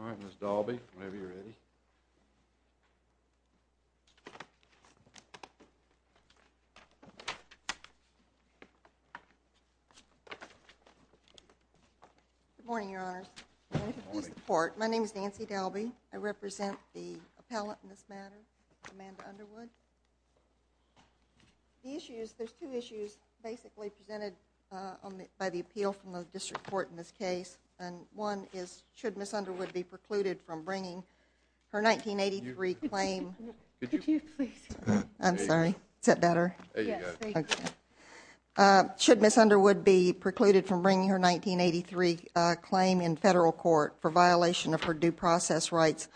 All right, Ms. Dalby, whenever you're ready. Good morning, Your Honors. Good morning. My name is Nancy Dalby. I represent the appellant in this matter, Amanda Underwood. The issues, there's two issues basically presented by the appeal from the district court in this case, and one is should Ms. Underwood be precluded from bringing her 1983 claim. Could you please? I'm sorry. Is that better? Yes. Thank you. Okay. Should Ms. Underwood be precluded from bringing her 1983 claim in federal court for violation of her due process rights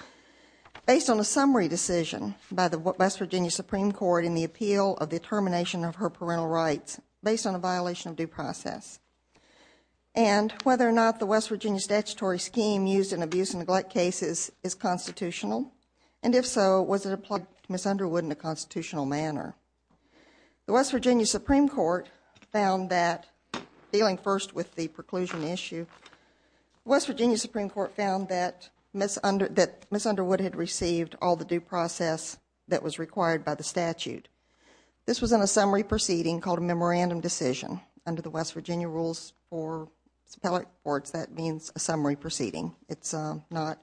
based on a summary decision by the West Virginia Supreme Court in the appeal of the termination of her parental rights based on a violation of due process? And whether or not the West Virginia statutory scheme used in abuse and neglect cases is constitutional, and if so, was it applied to Ms. Underwood in a constitutional manner? The West Virginia Supreme Court found that, dealing first with the preclusion issue, West that Ms. Underwood had received all the due process that was required by the statute. This was in a summary proceeding called a memorandum decision. Under the West Virginia rules for appellate courts, that means a summary proceeding. It's not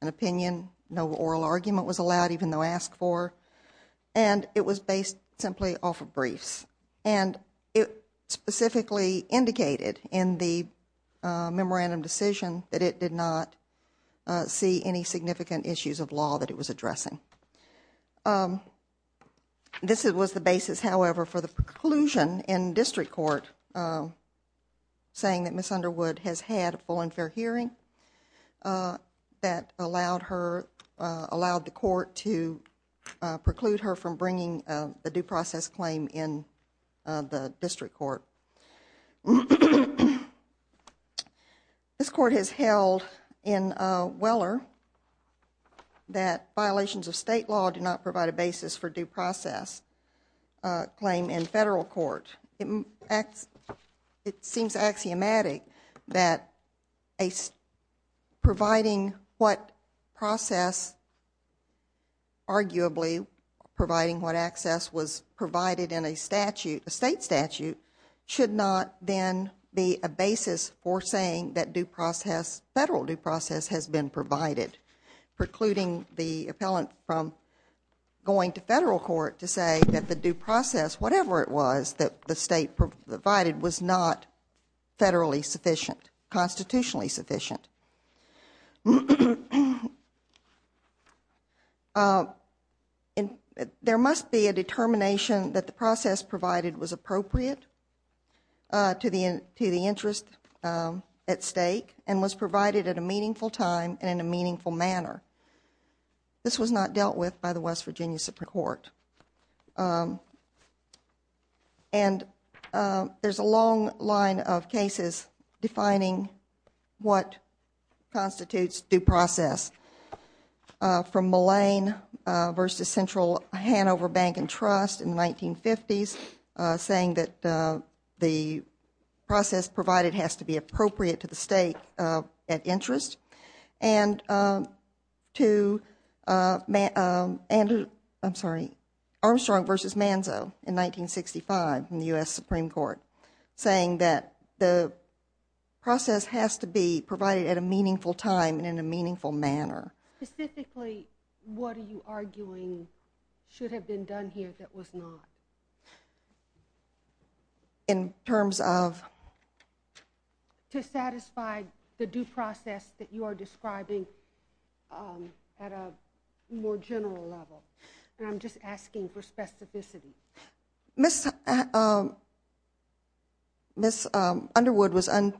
an opinion. No oral argument was allowed, even though asked for. And it was based simply off of briefs. And it specifically indicated in the memorandum decision that it did not see any significant issues of law that it was addressing. This was the basis, however, for the preclusion in district court saying that Ms. Underwood has had a full and fair hearing that allowed her, allowed the court to preclude her from bringing the due process claim in the district court. This court has held in Weller that violations of state law do not provide a basis for due process claim in federal court. It seems axiomatic that providing what process, arguably providing what access was provided in a statute, a state statute, should not then be a basis for saying that due process, federal due process has been provided. Precluding the appellant from going to federal court to say that the due process, whatever it was, that the state provided was not federally sufficient, constitutionally sufficient. There must be a determination that the process provided was appropriate to the interest at stake and was provided at a meaningful time and in a meaningful manner. This was not dealt with by the West Virginia Supreme Court. And there's a long line of cases defining what constitutes due process from Mullane versus Central Hanover Bank and Trust in the 1950s saying that the process provided has to be appropriate to the state at interest. And Armstrong versus Manzo in 1965 in the U.S. Supreme Court saying that the process has to be provided at a meaningful time and in a meaningful manner. Specifically, what are you arguing should have been done here that was not? In terms of? To satisfy the due process that you are describing at a more general level. And I'm just asking for specificity. Ms. Underwood was in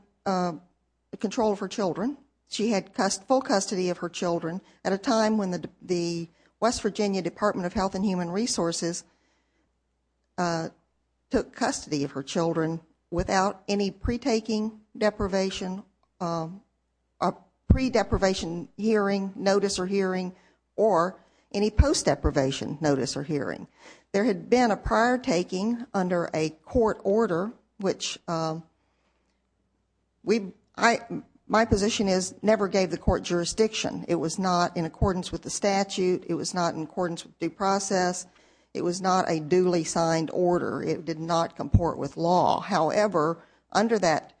control of her children. She had full custody of her children at a time when the West Virginia Department of Health and Human Resources took custody of her children without any pre-taking deprivation, pre-deprivation hearing, notice or hearing, or any post-deprivation notice or hearing. There had been a prior taking under a court order, which my position is never gave the court jurisdiction. It was not in accordance with the statute. It was not in accordance with due process. It was not a duly signed order. It did not comport with law. However, under that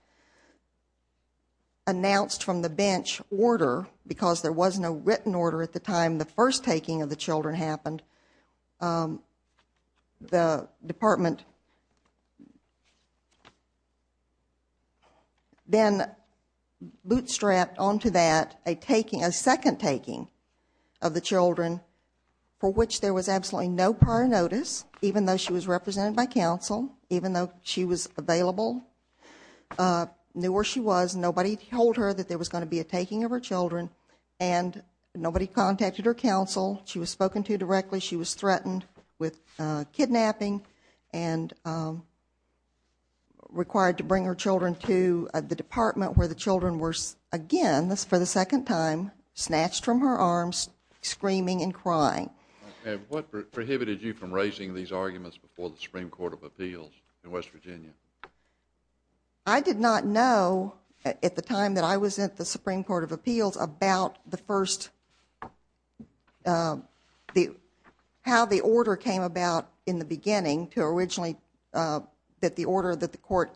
announced from the bench order, because there was no written order at the time the first taking of the children happened, the department then bootstrapped onto that a second taking of the children for which there was absolutely no prior notice, even though she was represented by counsel, even though she was available, knew where she was. Nobody told her that there was going to be a taking of her children. And nobody contacted her counsel. She was spoken to directly. She was threatened with kidnapping and required to bring her children to the department where the children were again, for the second time, snatched from her arms, screaming and crying. What prohibited you from raising these arguments before the Supreme Court of Appeals in West Virginia? I did not know at the time that I was at the Supreme Court of Appeals about the first, how the order came about in the beginning to originally, that the order that the court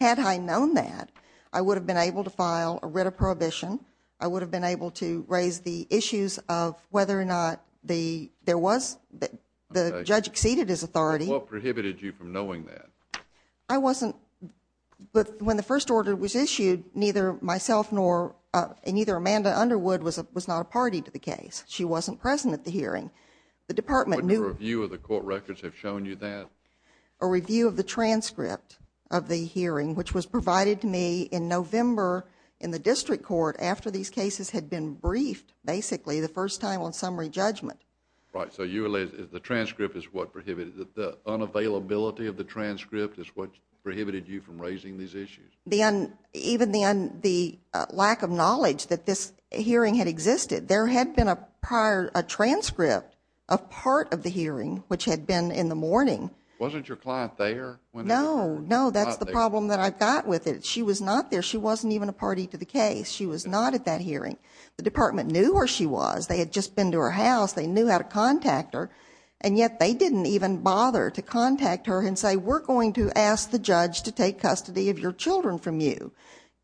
Had I known that, I would have been able to file a writ of prohibition. I would have been able to raise the issues of whether or not there was, the judge exceeded his authority. What prohibited you from knowing that? I wasn't, when the first order was issued, neither myself nor, and neither Amanda Underwood was not a party to the case. She wasn't present at the hearing. The department knew. Wouldn't a review of the court records have shown you that? A review of the transcript of the hearing, which was provided to me in November in the district court after these cases had been briefed, basically, the first time on summary judgment. Right, so you alleged that the transcript is what prohibited, that the unavailability of the transcript is what prohibited you from raising these issues. Even the lack of knowledge that this hearing had existed. There had been a prior, a transcript of part of the hearing, which had been in the morning. Wasn't your client there? No, no, that's the problem that I've got with it. She was not there. She wasn't even a party to the case. She was not at that hearing. The department knew where she was. They had just been to her house. They knew how to contact her, and yet they didn't even bother to contact her and say, we're going to ask the judge to take custody of your children from you.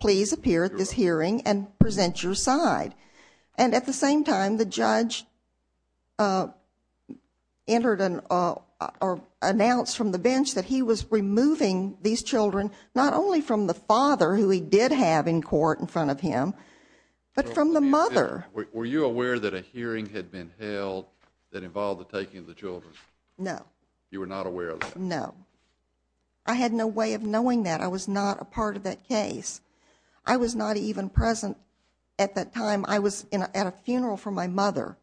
Please appear at this hearing and present your side. And at the same time, the judge entered or announced from the bench that he was removing these children, not only from the father, who he did have in court in front of him, but from the mother. Were you aware that a hearing had been held that involved the taking of the children? No. You were not aware of that? No. I had no way of knowing that. I was not a part of that case. I was not even present at that time. I was at a funeral for my mother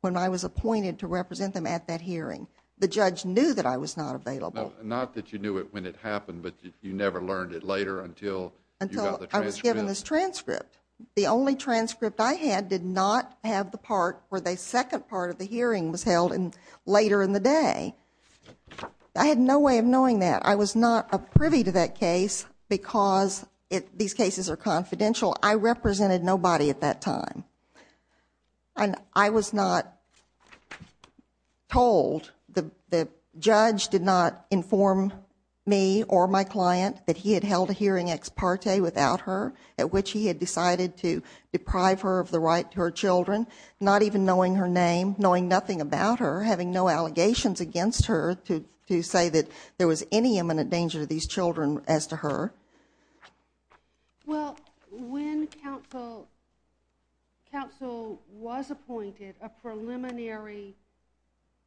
when I was appointed to represent them at that hearing. The judge knew that I was not available. Not that you knew it when it happened, but you never learned it later until you got the transcript? Until I was given this transcript. The only transcript I had did not have the part where the second part of the hearing was held later in the day. I had no way of knowing that. I was not a privy to that case because these cases are confidential. I represented nobody at that time. I was not told. The judge did not inform me or my client that he had held a hearing ex parte without her, at which he had decided to deprive her of the right to her children, not even knowing her name, knowing nothing about her, or having no allegations against her to say that there was any imminent danger to these children as to her. Well, when counsel was appointed, a preliminary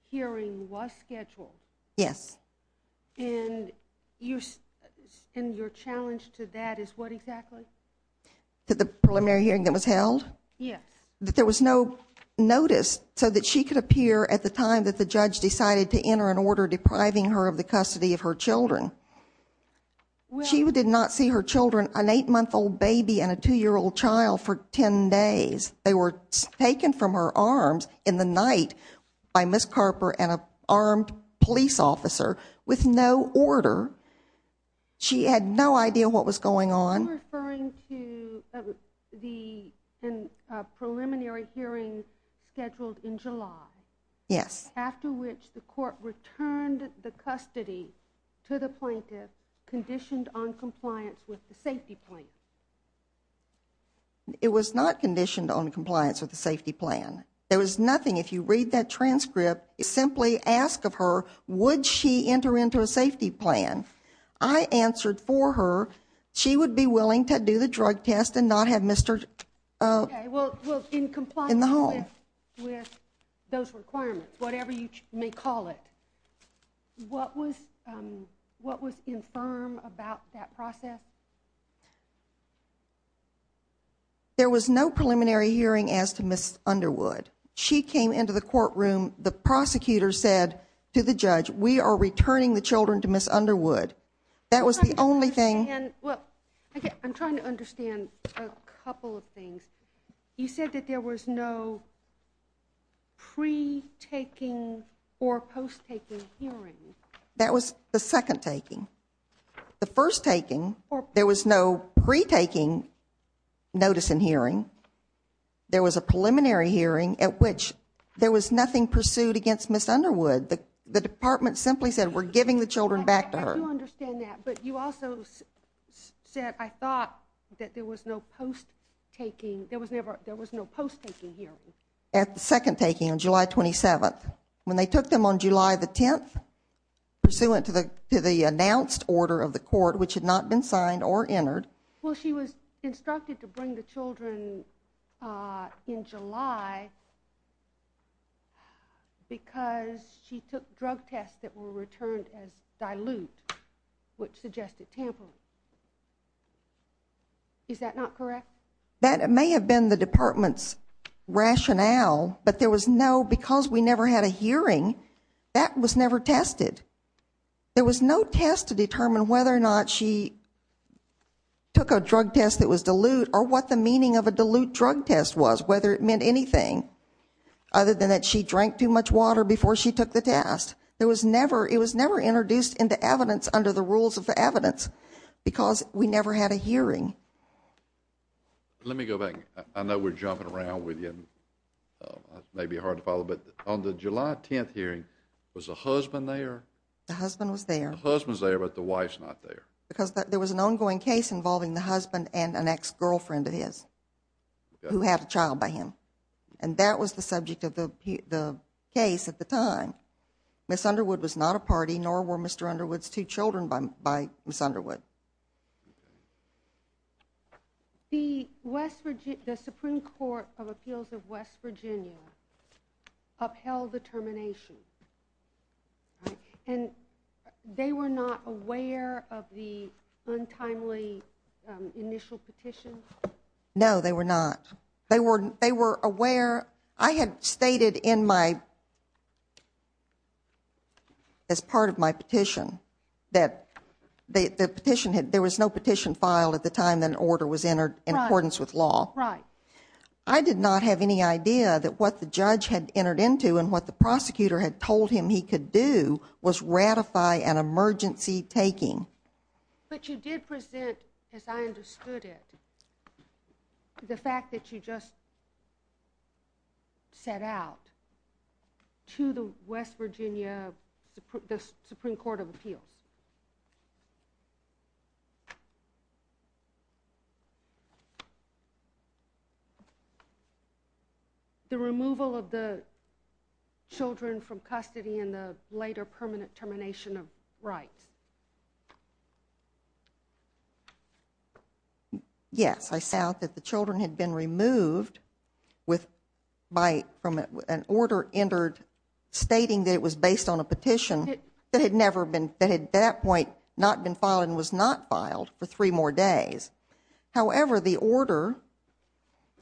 hearing was scheduled. Yes. And your challenge to that is what exactly? To the preliminary hearing that was held? Yes. There was no notice so that she could appear at the time that the judge decided to enter an order depriving her of the custody of her children. She did not see her children, an 8-month-old baby and a 2-year-old child, for 10 days. They were taken from her arms in the night by Ms. Carper and an armed police officer with no order. She had no idea what was going on. Are you referring to the preliminary hearing scheduled in July? Yes. After which the court returned the custody to the plaintiff conditioned on compliance with the safety plan? It was not conditioned on compliance with the safety plan. There was nothing. If you read that transcript, simply ask of her, would she enter into a safety plan? I answered for her, she would be willing to do the drug test and not have Mr. Okay, well, in compliance with those requirements, whatever you may call it. What was infirm about that process? There was no preliminary hearing as to Ms. Underwood. She came into the courtroom. The prosecutor said to the judge, we are returning the children to Ms. Underwood. That was the only thing. I'm trying to understand a couple of things. You said that there was no pre-taking or post-taking hearing. That was the second taking. The first taking, there was no pre-taking notice in hearing. There was a preliminary hearing at which there was nothing pursued against Ms. Underwood. The department simply said, we're giving the children back to her. I do understand that, but you also said, I thought that there was no post-taking. There was no post-taking hearing. At the second taking on July 27th, when they took them on July the 10th, pursuant to the announced order of the court, which had not been signed or entered. Well, she was instructed to bring the children in July because she took drug tests that were returned as dilute, which suggested tampering. Is that not correct? That may have been the department's rationale, but because we never had a hearing, that was never tested. There was no test to determine whether or not she took a drug test that was dilute or what the meaning of a dilute drug test was, whether it meant anything, other than that she drank too much water before she took the test. It was never introduced into evidence under the rules of the evidence because we never had a hearing. Let me go back. I know we're jumping around with you. It may be hard to follow, but on the July 10th hearing, was the husband there? The husband was there. The husband was there, but the wife's not there. Because there was an ongoing case involving the husband and an ex-girlfriend of his who had a child by him, and that was the subject of the case at the time. Ms. Underwood was not a party, nor were Mr. Underwood's two children by Ms. Underwood. The Supreme Court of Appeals of West Virginia upheld the termination, and they were not aware of the untimely initial petition? No, they were not. They were aware. I had stated as part of my petition that there was no petition filed at the time an order was entered in accordance with law. I did not have any idea that what the judge had entered into and what the prosecutor had told him he could do was ratify an emergency taking. But you did present, as I understood it, the fact that you just set out to the West Virginia Supreme Court of Appeals the removal of the children from custody and the later permanent termination of rights. Yes, I set out that the children had been removed from an order entered stating that it was based on a petition that had at that point not been filed and was not filed for three more days. However, the order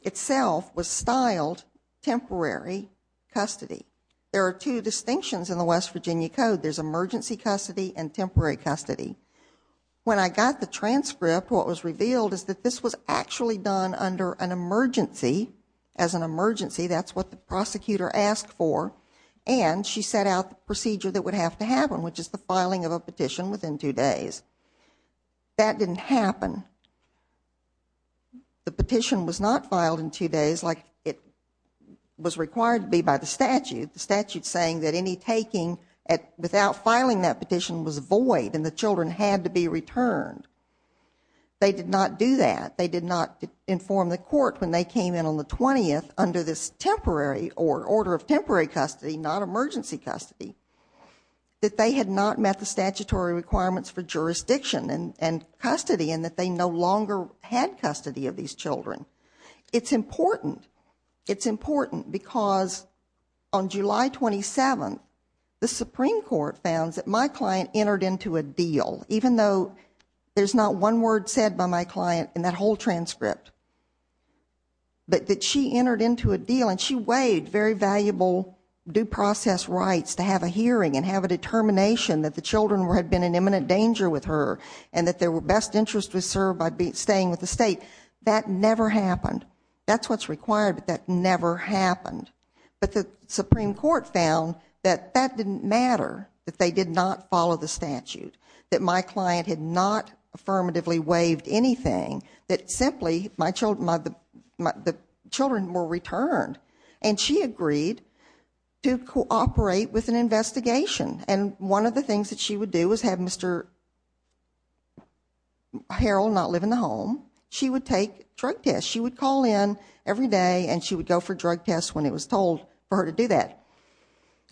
itself was styled temporary custody. There are two distinctions in the West Virginia Code. There's emergency custody and temporary custody. When I got the transcript, what was revealed is that this was actually done under an emergency. As an emergency, that's what the prosecutor asked for, and she set out the procedure that would have to happen, which is the filing of a petition within two days. That didn't happen. The petition was not filed in two days like it was required to be by the statute. The statute's saying that any taking without filing that petition was void and the children had to be returned. They did not do that. They did not inform the court when they came in on the 20th under this temporary or order of temporary custody, not emergency custody, that they had not met the statutory requirements for jurisdiction and custody and that they no longer had custody of these children. It's important. It's important because on July 27th, the Supreme Court found that my client entered into a deal, even though there's not one word said by my client in that whole transcript, but that she entered into a deal and she waived very valuable due process rights to have a hearing and have a determination that the children had been in imminent danger with her and that their best interest was served by staying with the state. That never happened. That's what's required, but that never happened. But the Supreme Court found that that didn't matter, that they did not follow the statute, that my client had not affirmatively waived anything, that simply the children were returned. And she agreed to cooperate with an investigation. And one of the things that she would do is have Mr. Harrell not live in the home. She would take drug tests. She would call in every day and she would go for drug tests when it was told for her to do that.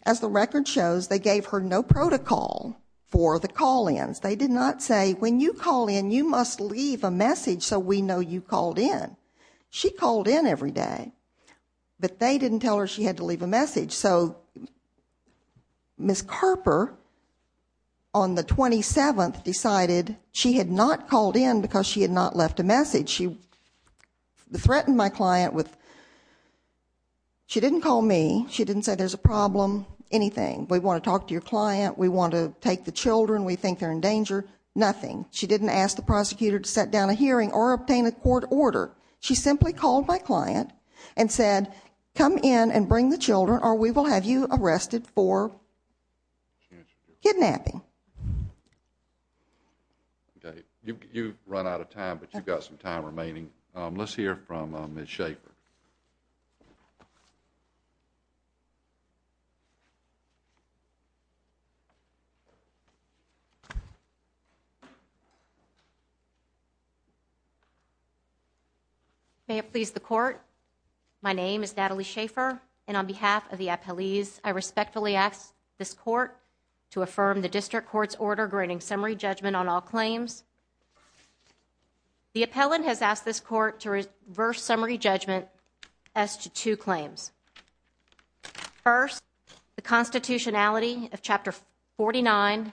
As the record shows, they gave her no protocol for the call-ins. They did not say, when you call in, you must leave a message so we know you called in. She called in every day, but they didn't tell her she had to leave a message. So Ms. Carper, on the 27th, decided she had not called in because she had not left a message. She threatened my client with, she didn't call me. She didn't say there's a problem, anything. We want to talk to your client. We want to take the children. We think they're in danger. Nothing. She didn't ask the prosecutor to set down a hearing or obtain a court order. She simply called my client and said, come in and bring the children or we will have you arrested for kidnapping. Okay. You've run out of time, but you've got some time remaining. Let's hear from Ms. Schaffer. May it please the court, my name is Natalie Schaffer, and on behalf of the appellees, I respectfully ask this court to affirm the district court's order granting summary judgment on all claims. The appellant has asked this court to reverse summary judgment as to two claims. First, the constitutionality of Chapter 49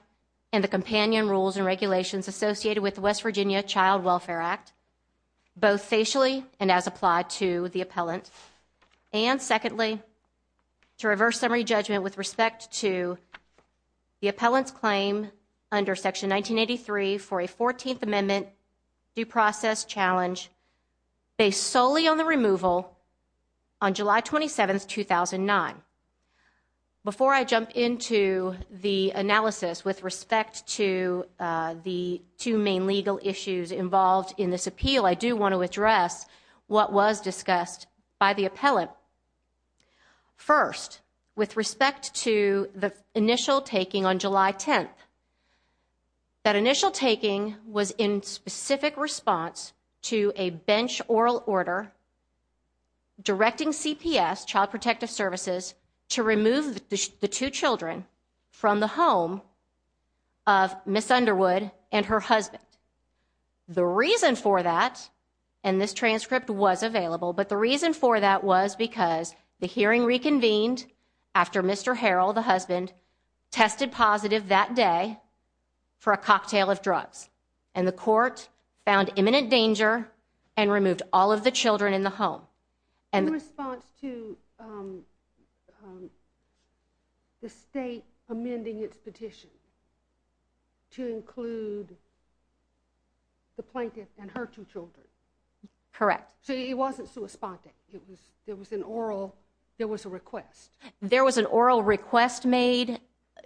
and the companion rules and regulations associated with the West Virginia Child Welfare Act, both facially and as applied to the appellant. And secondly, to reverse summary judgment with respect to the appellant's claim under Section 1983 for a 14th Amendment due process challenge based solely on the removal on July 27, 2009. Before I jump into the analysis with respect to the two main legal issues involved in this appeal, I do want to address what was discussed by the appellant. First, with respect to the initial taking on July 10th, that initial taking was in specific response to a bench oral order directing CPS, Child Protective Services, to remove the two children from the home of Ms. Underwood and her husband. The reason for that, and this transcript was available, but the reason for that was because the hearing reconvened after Mr. Harrell, the husband, tested positive that day for a cocktail of drugs. And the court found imminent danger and removed all of the children in the home. In response to the state amending its petition to include the plaintiff and her two children? Correct. So it wasn't suspended. There was an oral request. There was an oral request made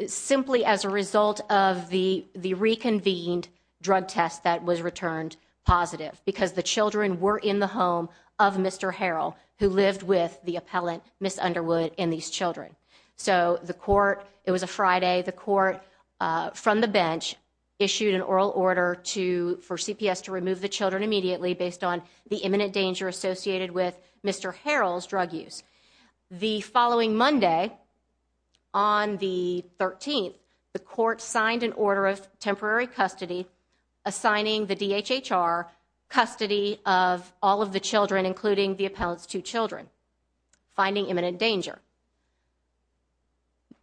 simply as a result of the reconvened drug test that was returned positive because the children were in the home of Mr. Harrell, who lived with the appellant, Ms. Underwood, and these children. So the court, it was a Friday, the court from the bench issued an oral order for CPS to remove the children immediately based on the imminent danger associated with Mr. Harrell's drug use. The following Monday, on the 13th, the court signed an order of temporary custody, assigning the DHHR custody of all of the children, including the appellant's two children, finding imminent danger.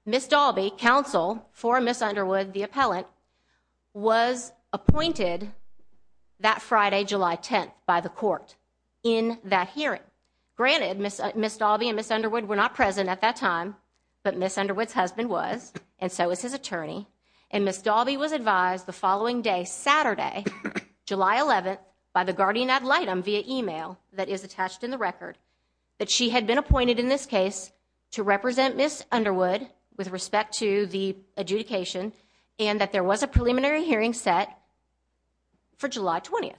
Ms. Dalby, counsel for Ms. Underwood, the appellant, was appointed that Friday, July 10th, by the court in that hearing. Granted, Ms. Dalby and Ms. Underwood were not present at that time, but Ms. Underwood's husband was, and so was his attorney. And Ms. Dalby was advised the following day, Saturday, July 11th, by the guardian ad litem via email that is attached in the record, that she had been appointed in this case to represent Ms. Underwood with respect to the adjudication and that there was a preliminary hearing set for July 20th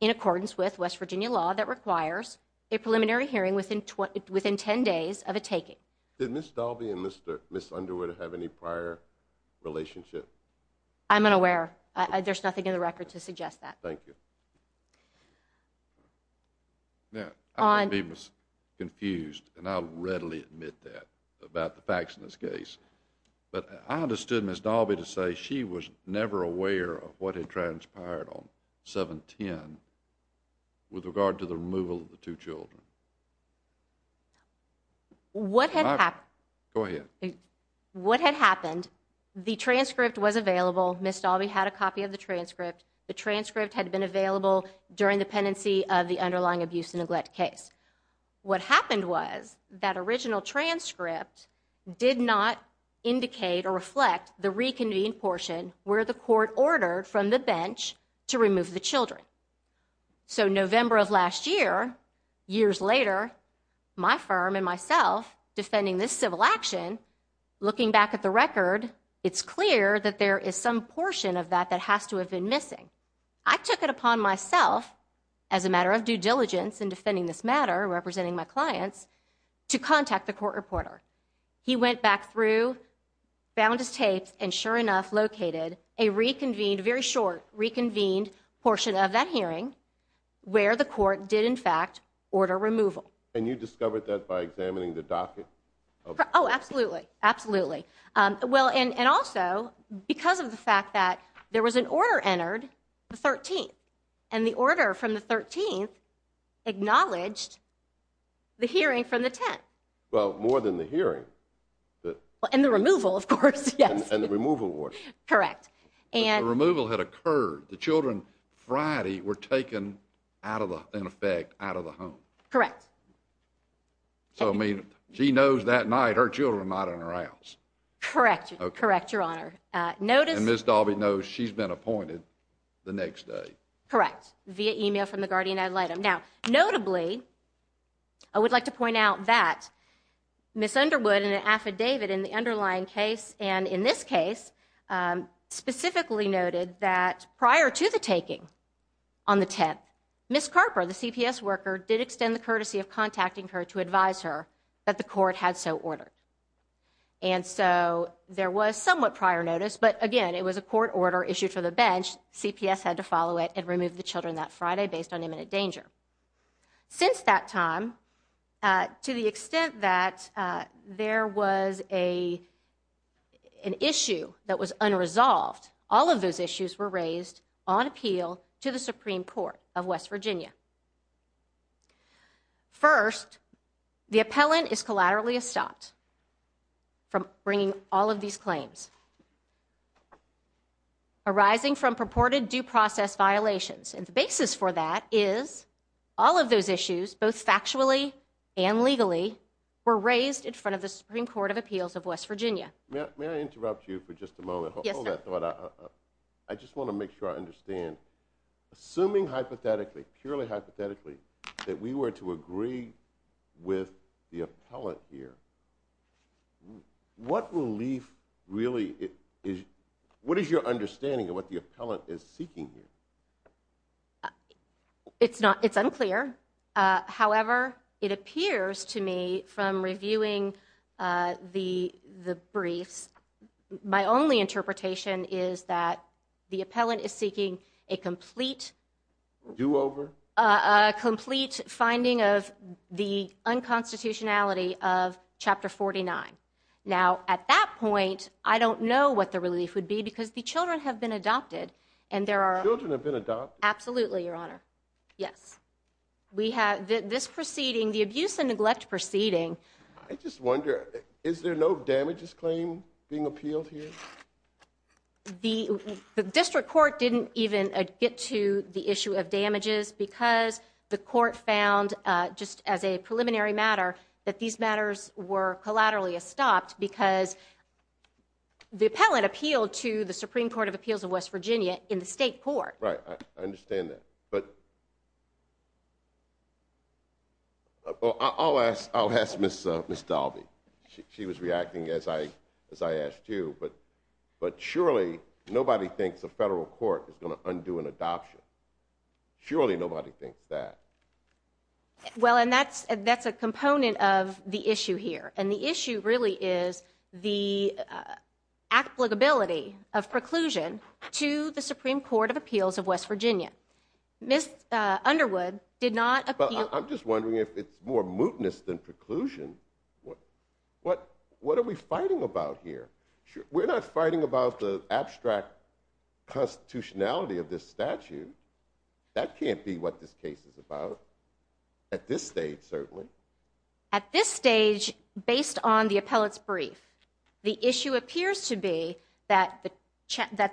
in accordance with West Virginia law that requires a preliminary hearing within 10 days of a taking. Did Ms. Dalby and Ms. Underwood have any prior relationship? I'm unaware. There's nothing in the record to suggest that. Thank you. Now, I'm going to be confused, and I'll readily admit that, about the facts in this case. But I understood Ms. Dalby to say she was never aware of what had transpired on 7-10 with regard to the removal of the two children. What had happened? Go ahead. What had happened, the transcript was available. Ms. Dalby had a copy of the transcript. The transcript had been available during the pendency of the underlying abuse and neglect case. What happened was that original transcript did not indicate or reflect the reconvened portion where the court ordered from the bench to remove the children. So, November of last year, years later, my firm and myself, defending this civil action, looking back at the record, it's clear that there is some portion of that that has to have been missing. I took it upon myself, as a matter of due diligence in defending this matter, representing my clients, to contact the court reporter. He went back through, found his tapes, and sure enough, located a reconvened, very short reconvened, portion of that hearing where the court did, in fact, order removal. And you discovered that by examining the docket? Oh, absolutely, absolutely. Well, and also, because of the fact that there was an order entered the 13th, and the order from the 13th acknowledged the hearing from the 10th. Well, more than the hearing. And the removal, of course, yes. And the removal was. Correct. The removal had occurred. The children, Friday, were taken out of the, in effect, out of the home. Correct. So, I mean, she knows that night her children are not in her house. Correct. Correct, Your Honor. Notice. And Ms. Dalby knows she's been appointed the next day. Correct. Via email from the guardian ad litem. Now, notably, I would like to point out that Ms. Underwood, in an affidavit in the underlying case, and in this case, specifically noted that prior to the taking on the 10th, Ms. Carper, the CPS worker, did extend the courtesy of contacting her to advise her that the court had so ordered. And so there was somewhat prior notice, but, again, it was a court order issued for the bench. CPS had to follow it and remove the children that Friday based on imminent danger. Since that time, to the extent that there was an issue that was unresolved, all of those issues were raised on appeal to the Supreme Court of West Virginia. First, the appellant is collaterally stopped from bringing all of these claims arising from purported due process violations. And the basis for that is all of those issues, both factually and legally, were raised in front of the Supreme Court of Appeals of West Virginia. May I interrupt you for just a moment? Yes, sir. I just want to make sure I understand. Assuming hypothetically, purely hypothetically, that we were to agree with the appellant here, what relief really is – what is your understanding of what the appellant is seeking here? It's unclear. However, it appears to me from reviewing the briefs, my only interpretation is that the appellant is seeking a complete – Do-over? A complete finding of the unconstitutionality of Chapter 49. Now, at that point, I don't know what the relief would be because the children have been adopted and there are – Children have been adopted? Absolutely, Your Honor. Yes. We have – this proceeding, the abuse and neglect proceeding – I just wonder, is there no damages claim being appealed here? The district court didn't even get to the issue of damages because the court found, just as a preliminary matter, that these matters were collaterally stopped because the appellant appealed to the Supreme Court of Appeals of West Virginia in the state court. Right, I understand that. I'll ask Ms. Dalby. She was reacting as I asked you, but surely nobody thinks a federal court is going to undo an adoption. Surely nobody thinks that. Well, and that's a component of the issue here. And the issue really is the applicability of preclusion to the Supreme Court of Appeals of West Virginia. Ms. Underwood did not appeal – Well, I'm just wondering if it's more mootness than preclusion. What are we fighting about here? We're not fighting about the abstract constitutionality of this statute. That can't be what this case is about at this stage, certainly. At this stage, based on the appellant's brief, the issue appears to be that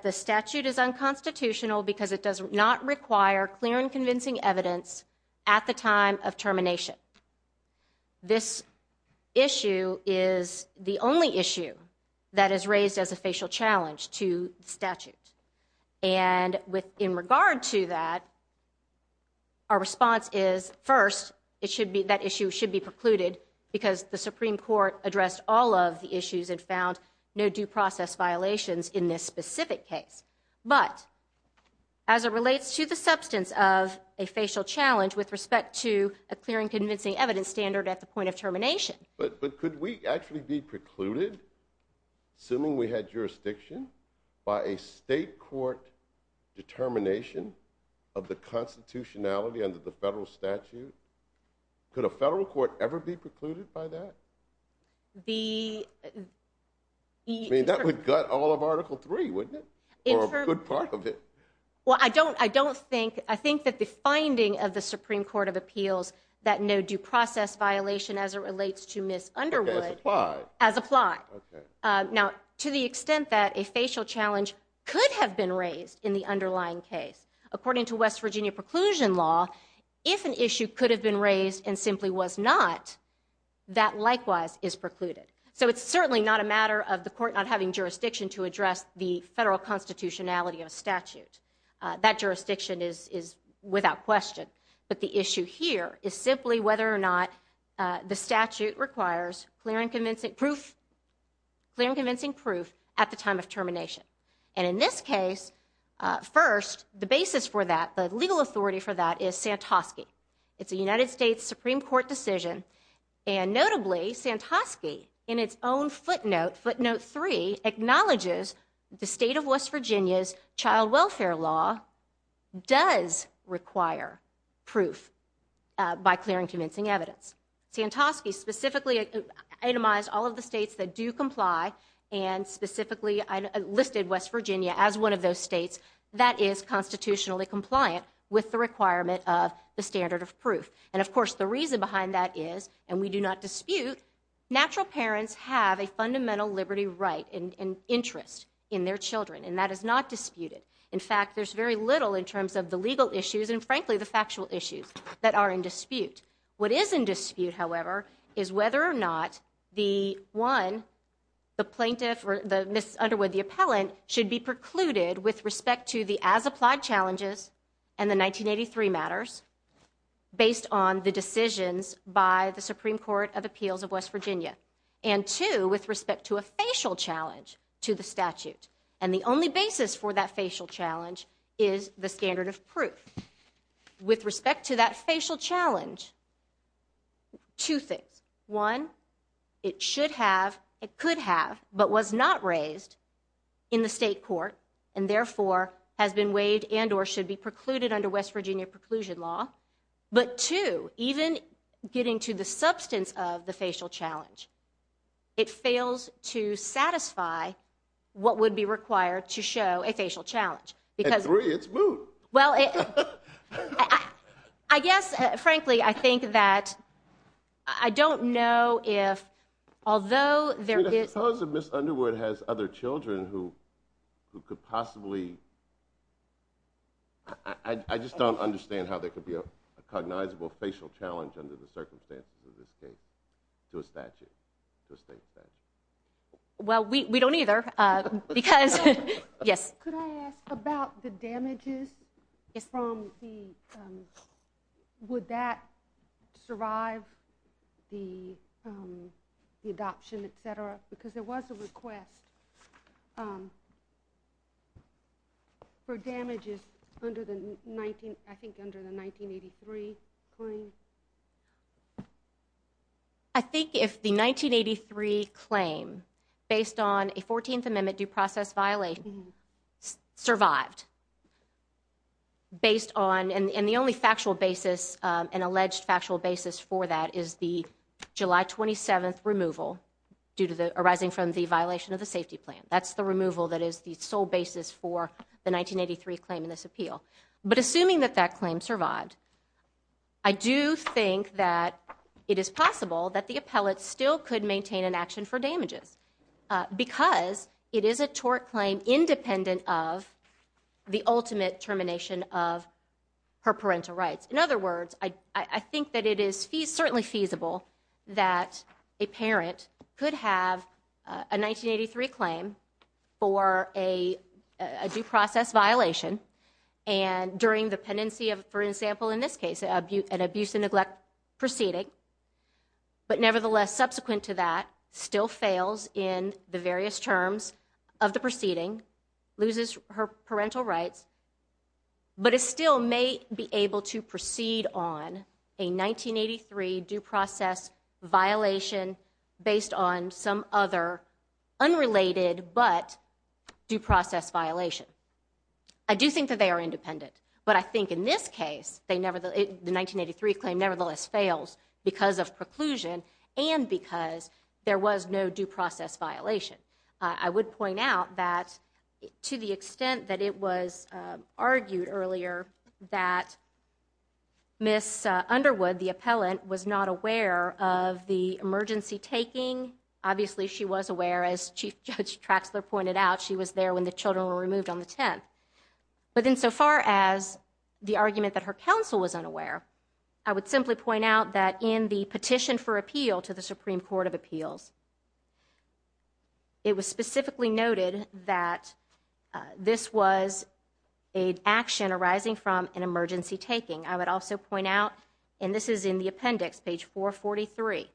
the statute is unconstitutional because it does not require clear and convincing evidence at the time of termination. This issue is the only issue that is raised as a facial challenge to the statute. And in regard to that, our response is, first, that issue should be precluded because the Supreme Court addressed all of the issues and found no due process violations in this specific case. But as it relates to the substance of a facial challenge with respect to a clear and convincing evidence standard at the point of termination – But could we actually be precluded, assuming we had jurisdiction, by a state court determination of the constitutionality under the federal statute? Could a federal court ever be precluded by that? The – I mean, that would gut all of Article III, wouldn't it? Or a good part of it. Well, I don't – I don't think – I think that the finding of the Supreme Court of Appeals that no due process violation as it relates to Ms. Underwood – Okay, as applied. As applied. Okay. Now, to the extent that a facial challenge could have been raised in the underlying case, according to West Virginia preclusion law, if an issue could have been raised and simply was not, that likewise is precluded. So it's certainly not a matter of the court not having jurisdiction to address the federal constitutionality of a statute. That jurisdiction is without question. But the issue here is simply whether or not the statute requires clear and convincing proof at the time of termination. And in this case, first, the basis for that, the legal authority for that, is Santosky. It's a United States Supreme Court decision, and notably, Santosky in its own footnote, footnote three, acknowledges the state of West Virginia's child welfare law does require proof by clearing convincing evidence. Santosky specifically itemized all of the states that do comply and specifically listed West Virginia as one of those states that is constitutionally compliant with the requirement of the standard of proof. And, of course, the reason behind that is, and we do not dispute, natural parents have a fundamental liberty right and interest in their children. And that is not disputed. In fact, there's very little in terms of the legal issues and, frankly, the factual issues that are in dispute. What is in dispute, however, is whether or not the, one, the plaintiff or the Ms. Underwood, the appellant, should be precluded with respect to the as-applied challenges and the 1983 matters based on the decisions by the Supreme Court of Appeals of West Virginia. And, two, with respect to a facial challenge to the statute. And the only basis for that facial challenge is the standard of proof. With respect to that facial challenge, two things. One, it should have, it could have, but was not raised in the state court and, therefore, has been waived and or should be precluded under West Virginia preclusion law. But, two, even getting to the substance of the facial challenge, it fails to satisfy what would be required to show a facial challenge. At three, it's moot. Well, I guess, frankly, I think that, I don't know if, although there is. Suppose that Ms. Underwood has other children who could possibly, I just don't understand how there could be a cognizable facial challenge under the circumstances of this case to a statute, to a state statute. Well, we don't either because, yes. Could I ask about the damages from the, would that survive the adoption, et cetera? Because there was a request for damages under the 19, I think under the 1983 claim. I think if the 1983 claim, based on a 14th Amendment due process violation, survived. Based on, and the only factual basis, an alleged factual basis for that is the July 27th removal due to the, arising from the violation of the safety plan. That's the removal that is the sole basis for the 1983 claim in this appeal. But assuming that that claim survived, I do think that it is possible that the appellate still could maintain an action for damages. Because it is a tort claim independent of the ultimate termination of her parental rights. In other words, I think that it is certainly feasible that a parent could have a 1983 claim for a due process violation. And during the pendency of, for example in this case, an abuse and neglect proceeding. But nevertheless, subsequent to that, still fails in the various terms of the proceeding. Loses her parental rights. But it still may be able to proceed on a 1983 due process violation based on some other unrelated but due process violation. I do think that they are independent. But I think in this case, the 1983 claim nevertheless fails because of preclusion and because there was no due process violation. I would point out that to the extent that it was argued earlier that Miss Underwood, the appellant, was not aware of the emergency taking. Obviously she was aware as Chief Judge Traxler pointed out. She was there when the children were removed on the 10th. But in so far as the argument that her counsel was unaware. I would simply point out that in the petition for appeal to the Supreme Court of Appeals. It was specifically noted that this was an action arising from an emergency taking. I would also point out, and this is in the appendix, page 443.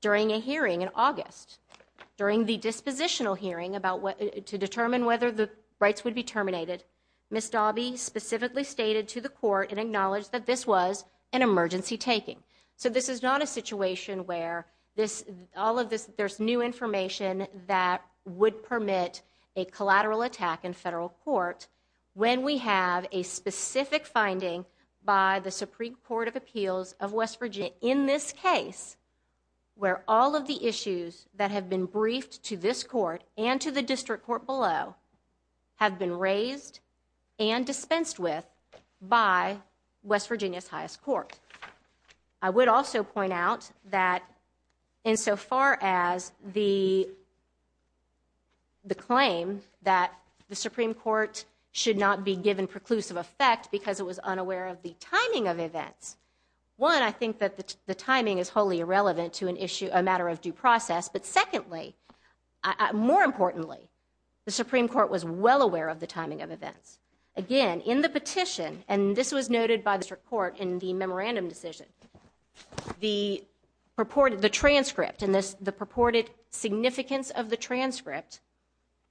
During a hearing in August. During the dispositional hearing to determine whether the rights would be terminated. Miss Daube specifically stated to the court and acknowledged that this was an emergency taking. So this is not a situation where there's new information that would permit a collateral attack in federal court. When we have a specific finding by the Supreme Court of Appeals of West Virginia. Where all of the issues that have been briefed to this court and to the district court below. Have been raised and dispensed with by West Virginia's highest court. I would also point out that in so far as the. The claim that the Supreme Court should not be given preclusive effect because it was unaware of the timing of events. One, I think that the timing is wholly irrelevant to an issue, a matter of due process. But secondly, more importantly, the Supreme Court was well aware of the timing of events. Again, in the petition, and this was noted by the court in the memorandum decision. The purported, the transcript in this, the purported significance of the transcript.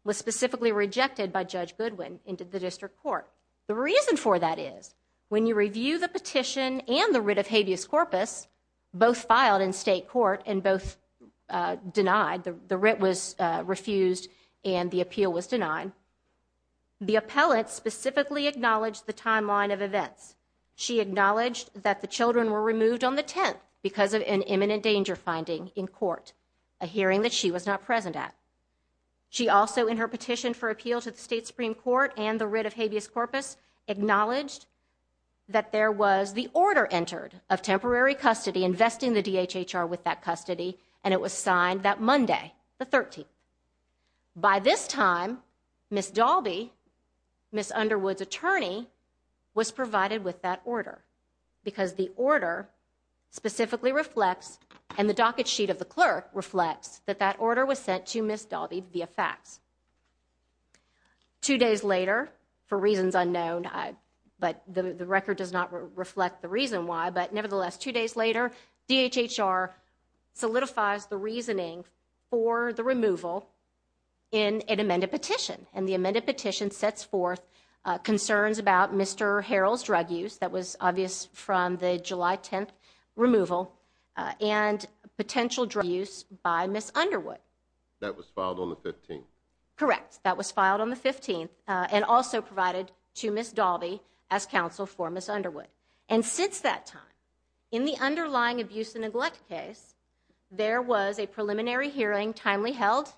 Was specifically rejected by Judge Goodwin into the district court. The reason for that is when you review the petition and the writ of habeas corpus. Both filed in state court and both denied the writ was refused and the appeal was denied. The appellate specifically acknowledged the timeline of events. She acknowledged that the children were removed on the 10th because of an imminent danger finding in court. A hearing that she was not present at. She also in her petition for appeal to the state Supreme Court and the writ of habeas corpus. Acknowledged that there was the order entered of temporary custody investing the DHHR with that custody. And it was signed that Monday, the 13th. By this time, Miss Dalby, Miss Underwood's attorney was provided with that order. Because the order specifically reflects and the docket sheet of the clerk reflects that that order was sent to Miss Dalby via fax. Two days later, for reasons unknown, but the record does not reflect the reason why. But nevertheless, two days later, DHHR solidifies the reasoning for the removal in an amended petition. And the amended petition sets forth concerns about Mr. Harrell's drug use. That was obvious from the July 10th removal and potential drug use by Miss Underwood. That was filed on the 15th. Correct. That was filed on the 15th and also provided to Miss Dalby as counsel for Miss Underwood. And since that time, in the underlying abuse and neglect case, there was a preliminary hearing timely held.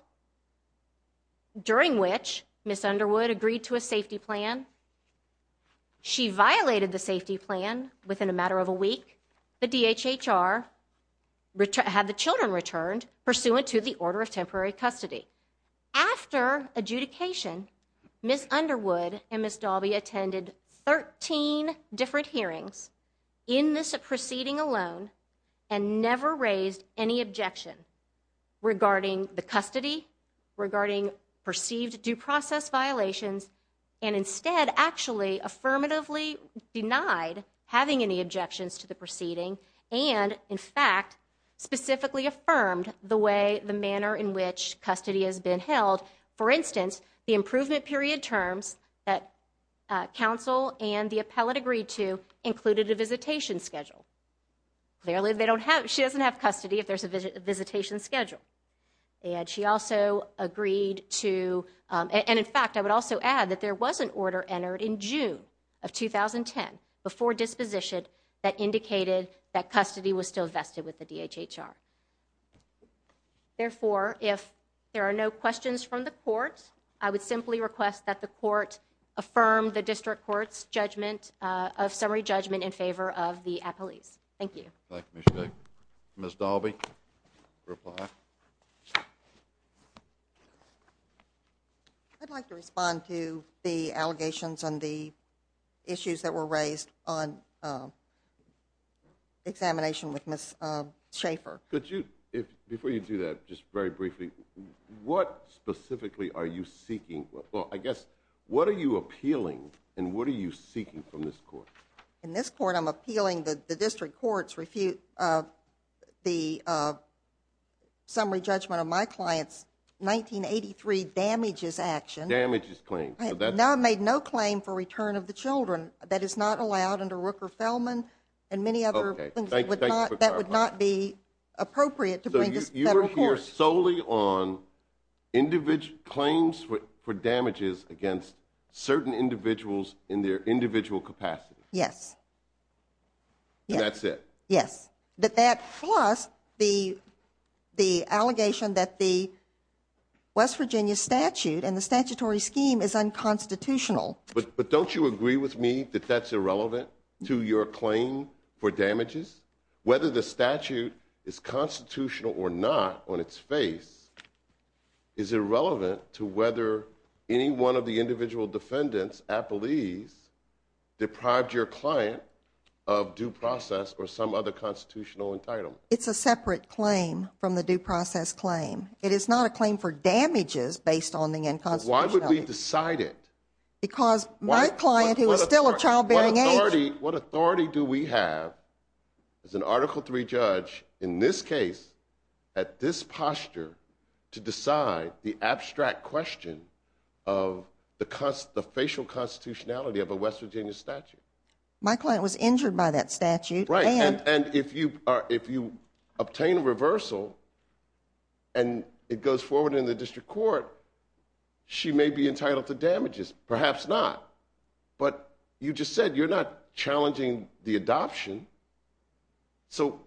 During which, Miss Underwood agreed to a safety plan. She violated the safety plan within a matter of a week. The DHHR had the children returned pursuant to the order of temporary custody. After adjudication, Miss Underwood and Miss Dalby attended 13 different hearings in this proceeding alone. And never raised any objection regarding the custody, regarding perceived due process violations. And instead actually affirmatively denied having any objections to the proceeding. And in fact, specifically affirmed the way, the manner in which custody has been held. For instance, the improvement period terms that counsel and the appellate agreed to included a visitation schedule. Clearly they don't have, she doesn't have custody if there's a visitation schedule. And she also agreed to, and in fact I would also add that there was an order entered in June of 2010. Before disposition that indicated that custody was still vested with the DHHR. Therefore, if there are no questions from the court. I would simply request that the court affirm the district court's judgment of summary judgment in favor of the appellees. Thank you. Thank you, Ms. Bick. Ms. Dalby, reply. I'd like to respond to the allegations on the issues that were raised on examination with Ms. Schaffer. Could you, before you do that, just very briefly, what specifically are you seeking? Well, I guess, what are you appealing and what are you seeking from this court? In this court I'm appealing the district court's refute of the summary judgment of my client's 1983 damages action. Damages claim. Now I've made no claim for return of the children. That is not allowed under Rooker-Feldman and many other things that would not be appropriate to bring to federal court. So you're working solely on claims for damages against certain individuals in their individual capacity. Yes. And that's it? Yes. But that plus the allegation that the West Virginia statute and the statutory scheme is unconstitutional. But don't you agree with me that that's irrelevant to your claim for damages? Whether the statute is constitutional or not on its face is irrelevant to whether any one of the individual defendants at Belize deprived your client of due process or some other constitutional entitlement. It's a separate claim from the due process claim. It is not a claim for damages based on the unconstitutionality. But why would we decide it? What authority do we have as an Article III judge in this case at this posture to decide the abstract question of the facial constitutionality of a West Virginia statute? My client was injured by that statute. Right. And if you obtain a reversal and it goes forward in the district court, she may be entitled to damages. Perhaps not. But you just said you're not challenging the adoption. So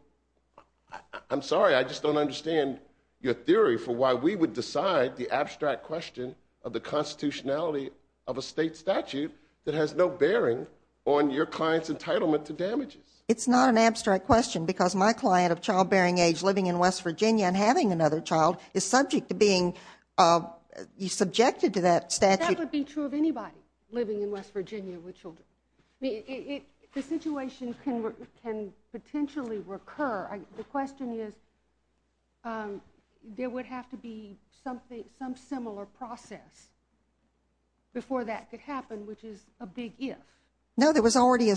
I'm sorry. I just don't understand your theory for why we would decide the abstract question of the constitutionality of a state statute that has no bearing on your client's entitlement to damages. It's not an abstract question because my client of childbearing age living in West Virginia and having another child is subject to being subjected to that statute. That would be true of anybody living in West Virginia with children. The situation can potentially recur. The question is there would have to be some similar process before that could happen, which is a big if. No, there was already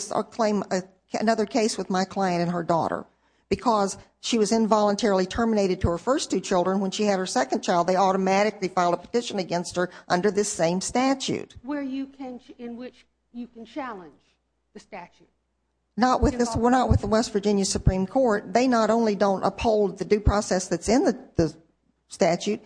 another case with my client and her daughter because she was involuntarily terminated to her first two children. When she had her second child, they automatically filed a petition against her under this same statute. In which you can challenge the statute? We're not with the West Virginia Supreme Court. They not only don't uphold the due process that's in the statute,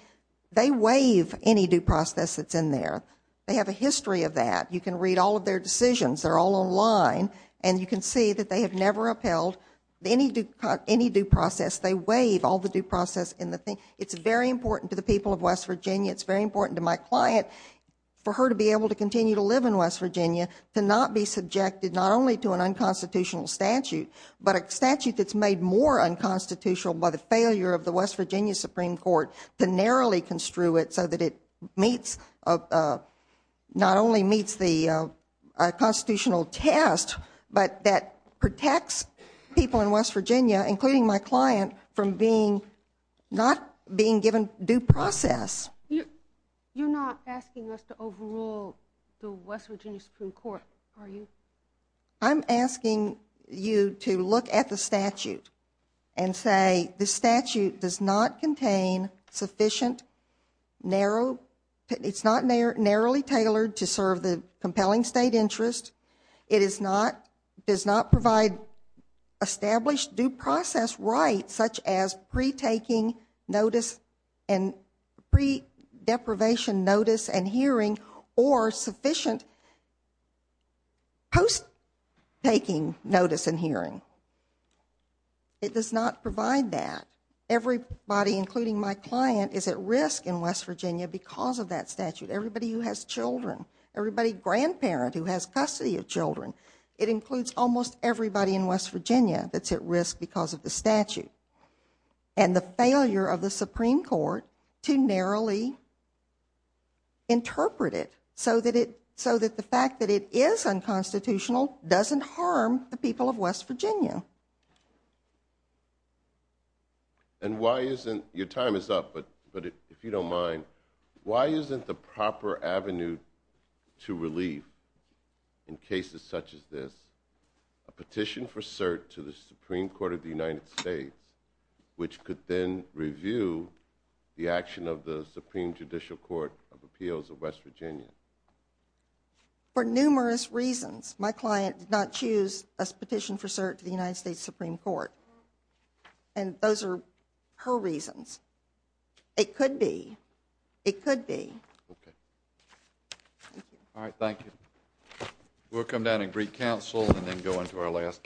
they waive any due process that's in there. They have a history of that. You can read all of their decisions. They're all online. And you can see that they have never upheld any due process. They waive all the due process in the thing. It's very important to the people of West Virginia. It's very important to my client for her to be able to continue to live in West Virginia to not be subjected not only to an unconstitutional statute, but a statute that's made more unconstitutional by the failure of the West Virginia Supreme Court to narrowly construe it so that it meets not only meets the constitutional test, but that protects people in West Virginia, including my client, from being not being given due process. You're not asking us to overrule the West Virginia Supreme Court, are you? I'm asking you to look at the statute and say the statute does not contain sufficient, narrow, it's not narrowly tailored to serve the compelling state interest. It is not, does not provide established due process rights such as pre-taking notice and pre-deprivation notice and hearing or sufficient post-taking notice and hearing. It does not provide that. Everybody, including my client, is at risk in West Virginia because of that statute. Everybody who has children, everybody grandparent who has custody of children, it includes almost everybody in West Virginia that's at risk because of the statute. And the failure of the Supreme Court to narrowly interpret it so that it, so that the fact that it is unconstitutional doesn't harm the people of West Virginia. And why isn't, your time is up, but if you don't mind, why isn't the proper avenue to relief in cases such as this a petition for cert to the Supreme Court of the United States, which could then review the action of the Supreme Judicial Court of Appeals of West Virginia? For numerous reasons, my client did not choose a petition for cert to the United States Supreme Court. And those are her reasons. It could be. It could be. Okay. Thank you. All right, thank you. We'll come down and greet counsel and then go into our last case.